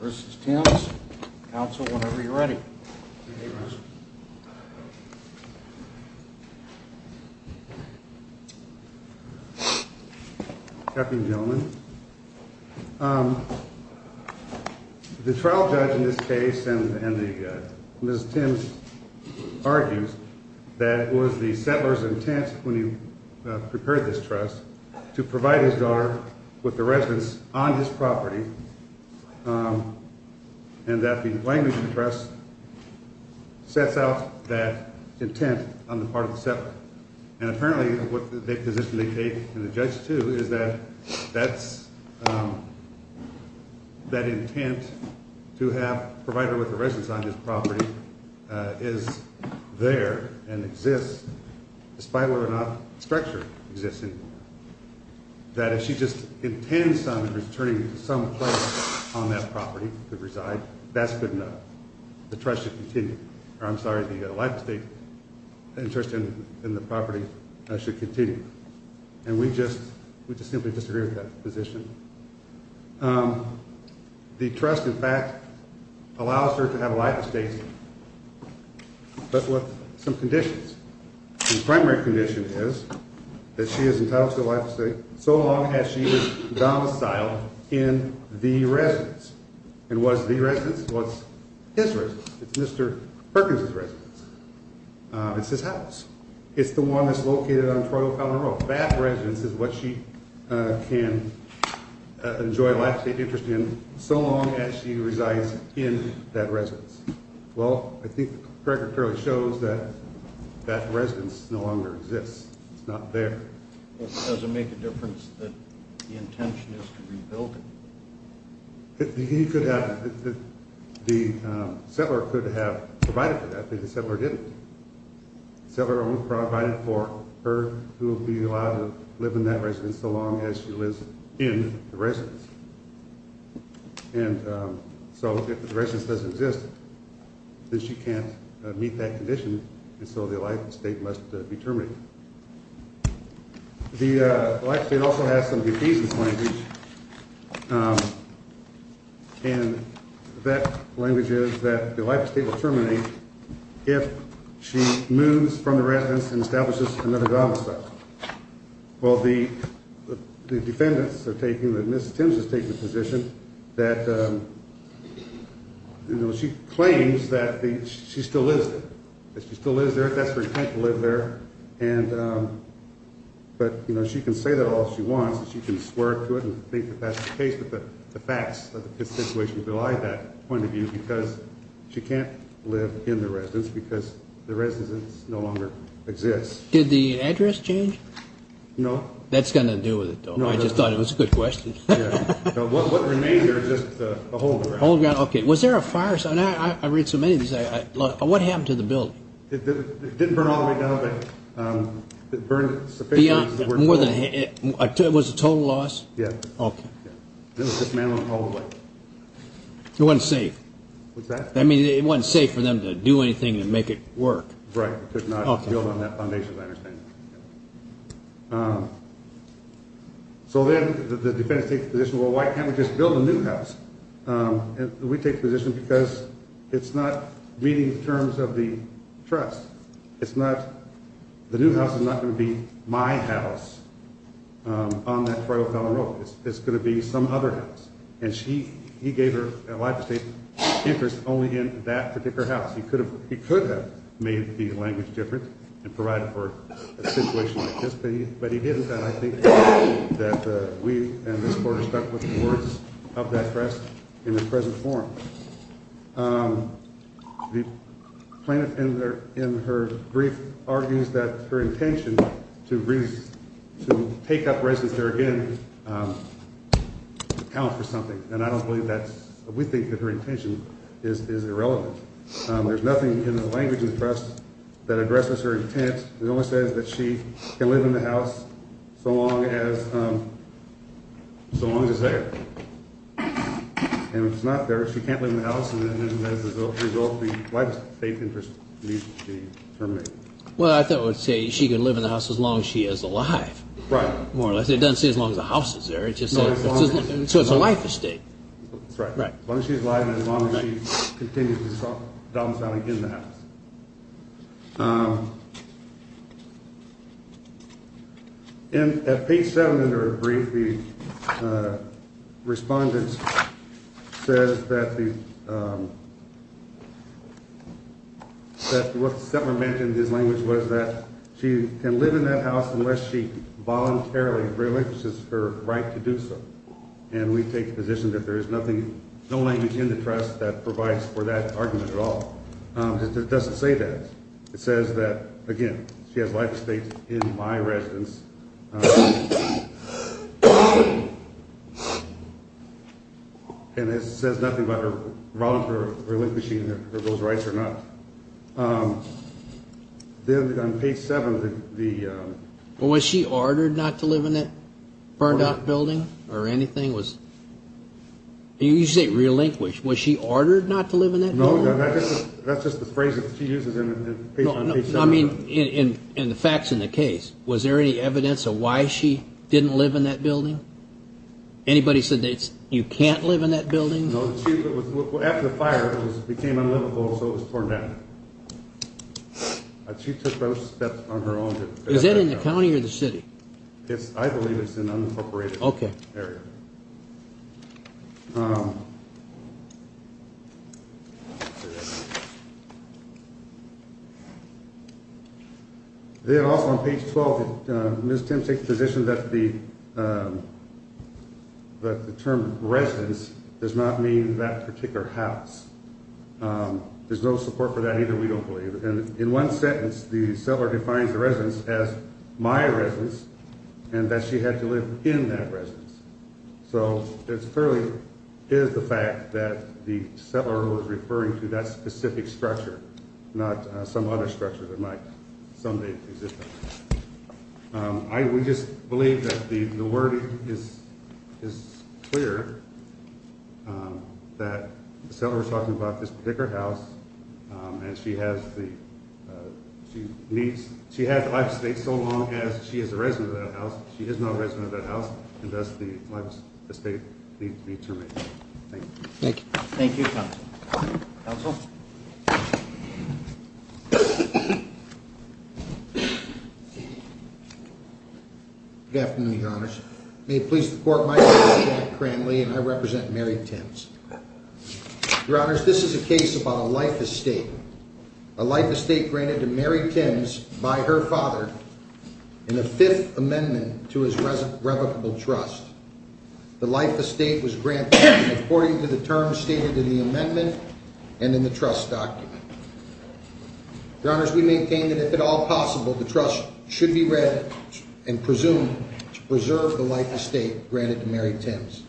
versus Tim's. Council, whenever you're ready. Good evening, Russell. Good evening, gentlemen. The trial judge in this case and Mrs. Tim argues that it was the settler's intent when he prepared this trust to provide his daughter with the residence on this property and that the language of the trust sets out that intent on the part of the settler. And apparently what the position they take and the judge too is that that's that intent to have provided with the residence on this property is there and exists, despite whether or not structure existing. That if she just intends on returning to some place on that property to reside, that's good enough. The trust should continue. I'm sorry, the life estate interest in the property should continue. And we just we just simply disagree with that position. The trust, in fact, allows her to have a life estate. But with some conditions. The primary condition is that she is entitled to a life estate so long as she is domiciled in the residence. Well, I think the record clearly shows that that residence no longer exists. It's not there. Does it make a difference that the intention is to rebuild it? The settler could have provided for that, but the settler didn't. The settler only provided for her who will be allowed to live in that residence so long as she lives in the residence. And so if the residence doesn't exist, then she can't meet that condition. And so the life estate must be terminated. The life estate also has some defeasance language. And that language is that the life estate will terminate if she moves from the residence and establishes another domicile. Well, the defendants are taking that Mrs. Timms is taking a position that she claims that she still lives there. She still lives there. That's her intent to live there. And but, you know, she can say that all she wants. She can swear to it and think that that's the case. But the facts of the situation rely on that point of view because she can't live in the residence because the residence no longer exists. Did the address change? No. That's going to do with it, though. I just thought it was a good question. What remains are just a hold down. Okay. Was there a fire? I read so many of these. What happened to the building? It didn't burn all the way down, but it burned sufficiently. Was it a total loss? Yes. Okay. It was dismantled all the way. It wasn't safe. It wasn't safe for them to do anything to make it work. Right. Could not build on that foundation, as I understand it. So then the defendants take the position, well, why can't we just build a new house? And we take the position because it's not meeting the terms of the trust. It's not the new house is not going to be my house on that trail down the road. It's going to be some other house. And she he gave her a lot of interest only in that particular house. He could have he could have made the language different and provide for a situation like this, but he didn't. And I think that we and this board are stuck with the words of that dress in the present form. The plaintiff in there in her brief argues that her intention to raise to take up residence there again, account for something. And I don't believe that we think that her intention is irrelevant. There's nothing in the language in the press that addresses her intent. It only says that she can live in the house so long as so long as they're not there. She can't live in the house. And as a result, the life safety interest needs to be terminated. Well, I thought I would say she can live in the house as long as she is alive. Right. More or less. It doesn't say as long as the house is there. It just says so it's a life estate. That's right. Right. Well, she's alive. And as long as she continues to talk about it in the house. And at page seven in her brief, the respondent says that the. That was mentioned in his language was that she can live in that house unless she voluntarily relinquishes her right to do so. And we take the position that there is nothing, no language in the press that provides for that argument at all. It doesn't say that. It says that, again, she has life states in my residence. And it says nothing about her relinquishing those rights or not. Then on page seven, the. Well, was she ordered not to live in that building or anything was. You say relinquish. Was she ordered not to live in that? No, that's just the phrase that she uses. I mean, in the facts in the case, was there any evidence of why she didn't live in that building? Anybody said that you can't live in that building. After the fire became unlivable, so it was torn down. She took those steps on her own. Is that in the county or the city? It's I believe it's an unincorporated area. Then also on page 12, Miss Tim takes position that the. But the term residence does not mean that particular house. There's no support for that either. We don't believe. And in one sentence, the seller defines the residence as my residence and that she had to live in that residence. So it's fairly is the fact that the seller was referring to that specific structure, not some other structure that might someday exist. I would just believe that the word is is clear. That the seller was talking about this particular house and she has the she needs. She had to stay so long as she is a resident of that house. She is not a resident of that house. And that's the state. Thank you. Thank you. Good afternoon, your honors. May it please the court. My name is Grant Lee and I represent Mary Tim's. Your honors, this is a case about a life estate, a life estate granted to Mary Tim's by her father. In the Fifth Amendment to his present revocable trust. The life estate was granted according to the terms stated in the amendment and in the trust document. Your honors, we maintain that if at all possible, the trust should be read and presumed to preserve the life estate granted to Mary Tim's.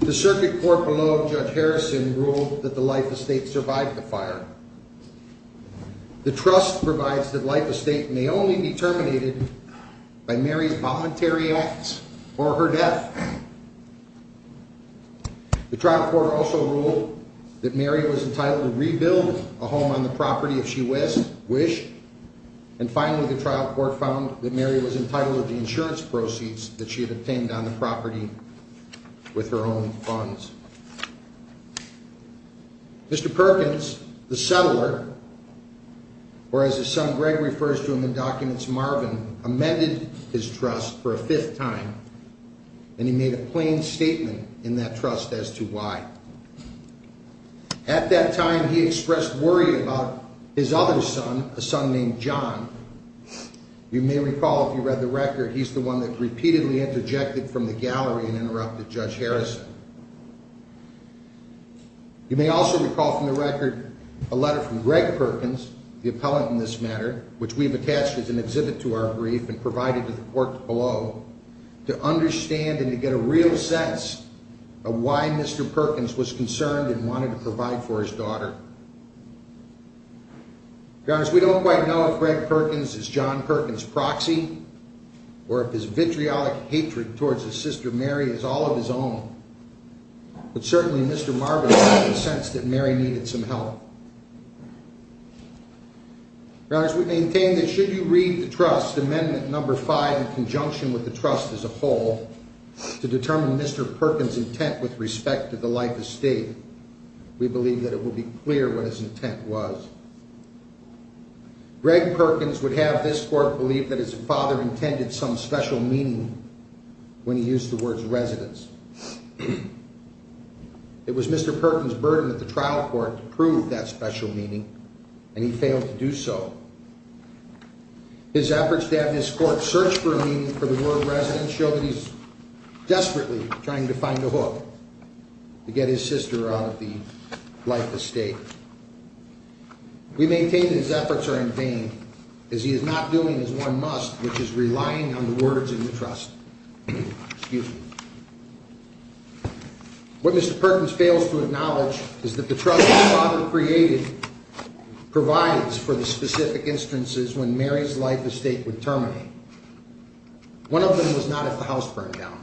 The circuit court below Judge Harrison ruled that the life estate survived the fire. The trust provides that life estate may only be terminated by Mary's voluntary acts or her death. The trial court also ruled that Mary was entitled to rebuild a home on the property if she was wish. And finally, the trial court found that Mary was entitled to the insurance proceeds that she had obtained on the property with her own funds. Mr. Perkins, the settler, or as his son Greg refers to him in documents, Marvin, amended his trust for a fifth time. And he made a plain statement in that trust as to why. At that time, he expressed worry about his other son, a son named John. You may recall if you read the record, he's the one that repeatedly interjected from the gallery and interrupted Judge Harrison. You may also recall from the record a letter from Greg Perkins, the appellant in this matter, which we've attached as an exhibit to our brief and provided to the court below, to understand and to get a real sense of why Mr. Perkins was concerned and wanted to provide for his daughter. Your honors, we don't quite know if Greg Perkins is John Perkins' proxy, or if his vitriolic hatred towards his sister Mary is all of his own. But certainly, Mr. Marvin made the sense that Mary needed some help. Your honors, we maintain that should you read the trust, amendment number five, in conjunction with the trust as a whole, to determine Mr. Perkins' intent with respect to the life estate, we believe that it will be clear what his intent was. Greg Perkins would have this court believe that his father intended some special meaning when he used the words residence. It was Mr. Perkins' burden at the trial court to prove that special meaning, and he failed to do so. His efforts to have this court search for a meaning for the word residence show that he's desperately trying to find a hook to get his sister out of the life estate. We maintain that his efforts are in vain, as he is not doing his one must, which is relying on the words in the trust. What Mr. Perkins fails to acknowledge is that the trust his father created provides for the specific instances when Mary's life estate would terminate. One of them was not at the house burndown.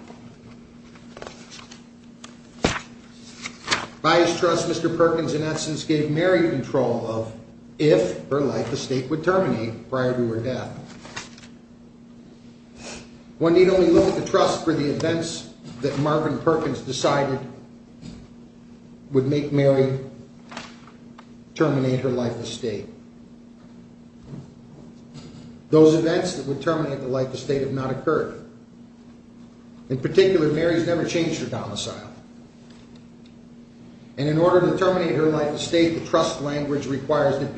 By his trust, Mr. Perkins, in essence, gave Mary control of if her life estate would terminate prior to her death. One need only look at the trust for the events that Marvin Perkins decided would make Mary terminate her life estate. Those events that would terminate the life estate have not occurred. In particular, Mary's never changed her domicile. And in order to terminate her life estate, the trust language requires that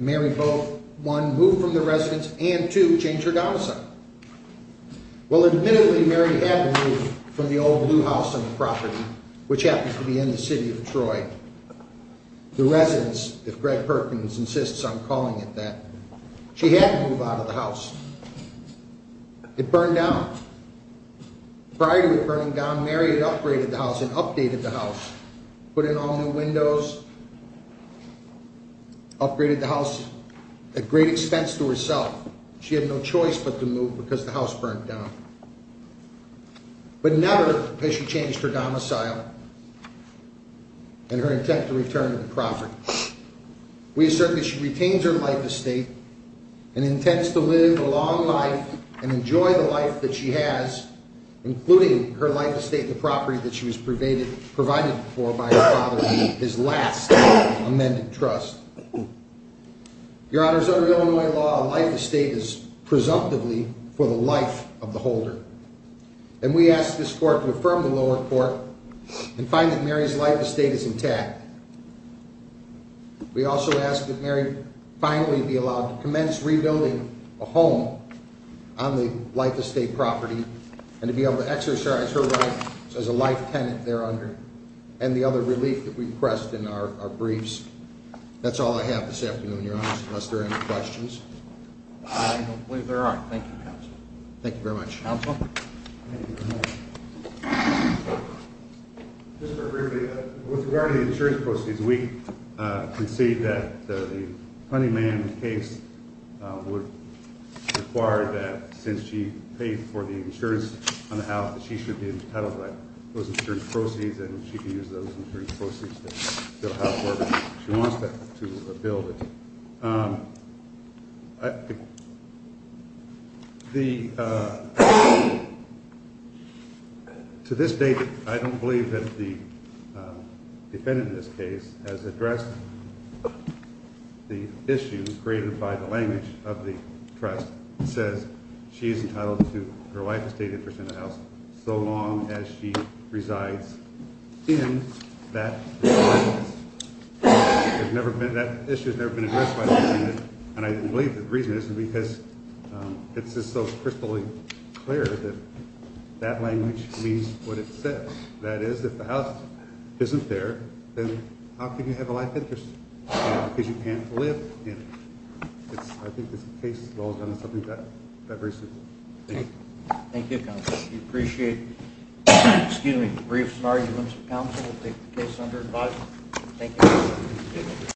Mary, one, move from the residence, and two, change her domicile. Well, admittedly, Mary had to move from the old blue house on the property, which happens to be in the city of Detroit. The residence, if Greg Perkins insists on calling it that, she had to move out of the house. It burned down. Prior to it burning down, Mary had upgraded the house and updated the house. Put in all new windows. Upgraded the house at great expense to herself. She had no choice but to move because the house burned down. But never has she changed her domicile and her intent to return to the property. We assert that she retains her life estate and intends to live a long life and enjoy the life that she has, including her life estate and the property that she was provided for by her father in his last amended trust. Your honors, under Illinois law, a life estate is presumptively for the life of the holder. And we ask this court to affirm the lower court and find that Mary's life estate is intact. We also ask that Mary finally be allowed to commence rebuilding a home on the life estate property and to be able to exercise her rights as a life tenant there under. And the other relief that we've pressed in our briefs. That's all I have this afternoon, your honors, unless there are any questions. I don't believe there are. Thank you, counsel. Thank you very much. With regard to the insurance proceeds, we concede that the Honeyman case would require that since she paid for the insurance on the house, she should be entitled to those insurance proceeds and she can use those insurance proceeds to build a house where she wants to build it. I. The. To this date, I don't believe that the defendant in this case has addressed. The issues created by the language of the trust says she is entitled to her life estate interest in the house so long as she resides in that. There's never been that issue has never been addressed by the defendant. And I believe the reason is because it's just so crystal clear that that language means what it says. That is, if the house isn't there, then how can you have a life interest? Because you can't live in. I think this case is all done in something that very simple. Thank you. Appreciate. Excuse me. Briefs and arguments. Council will take the case under advice. Thank you.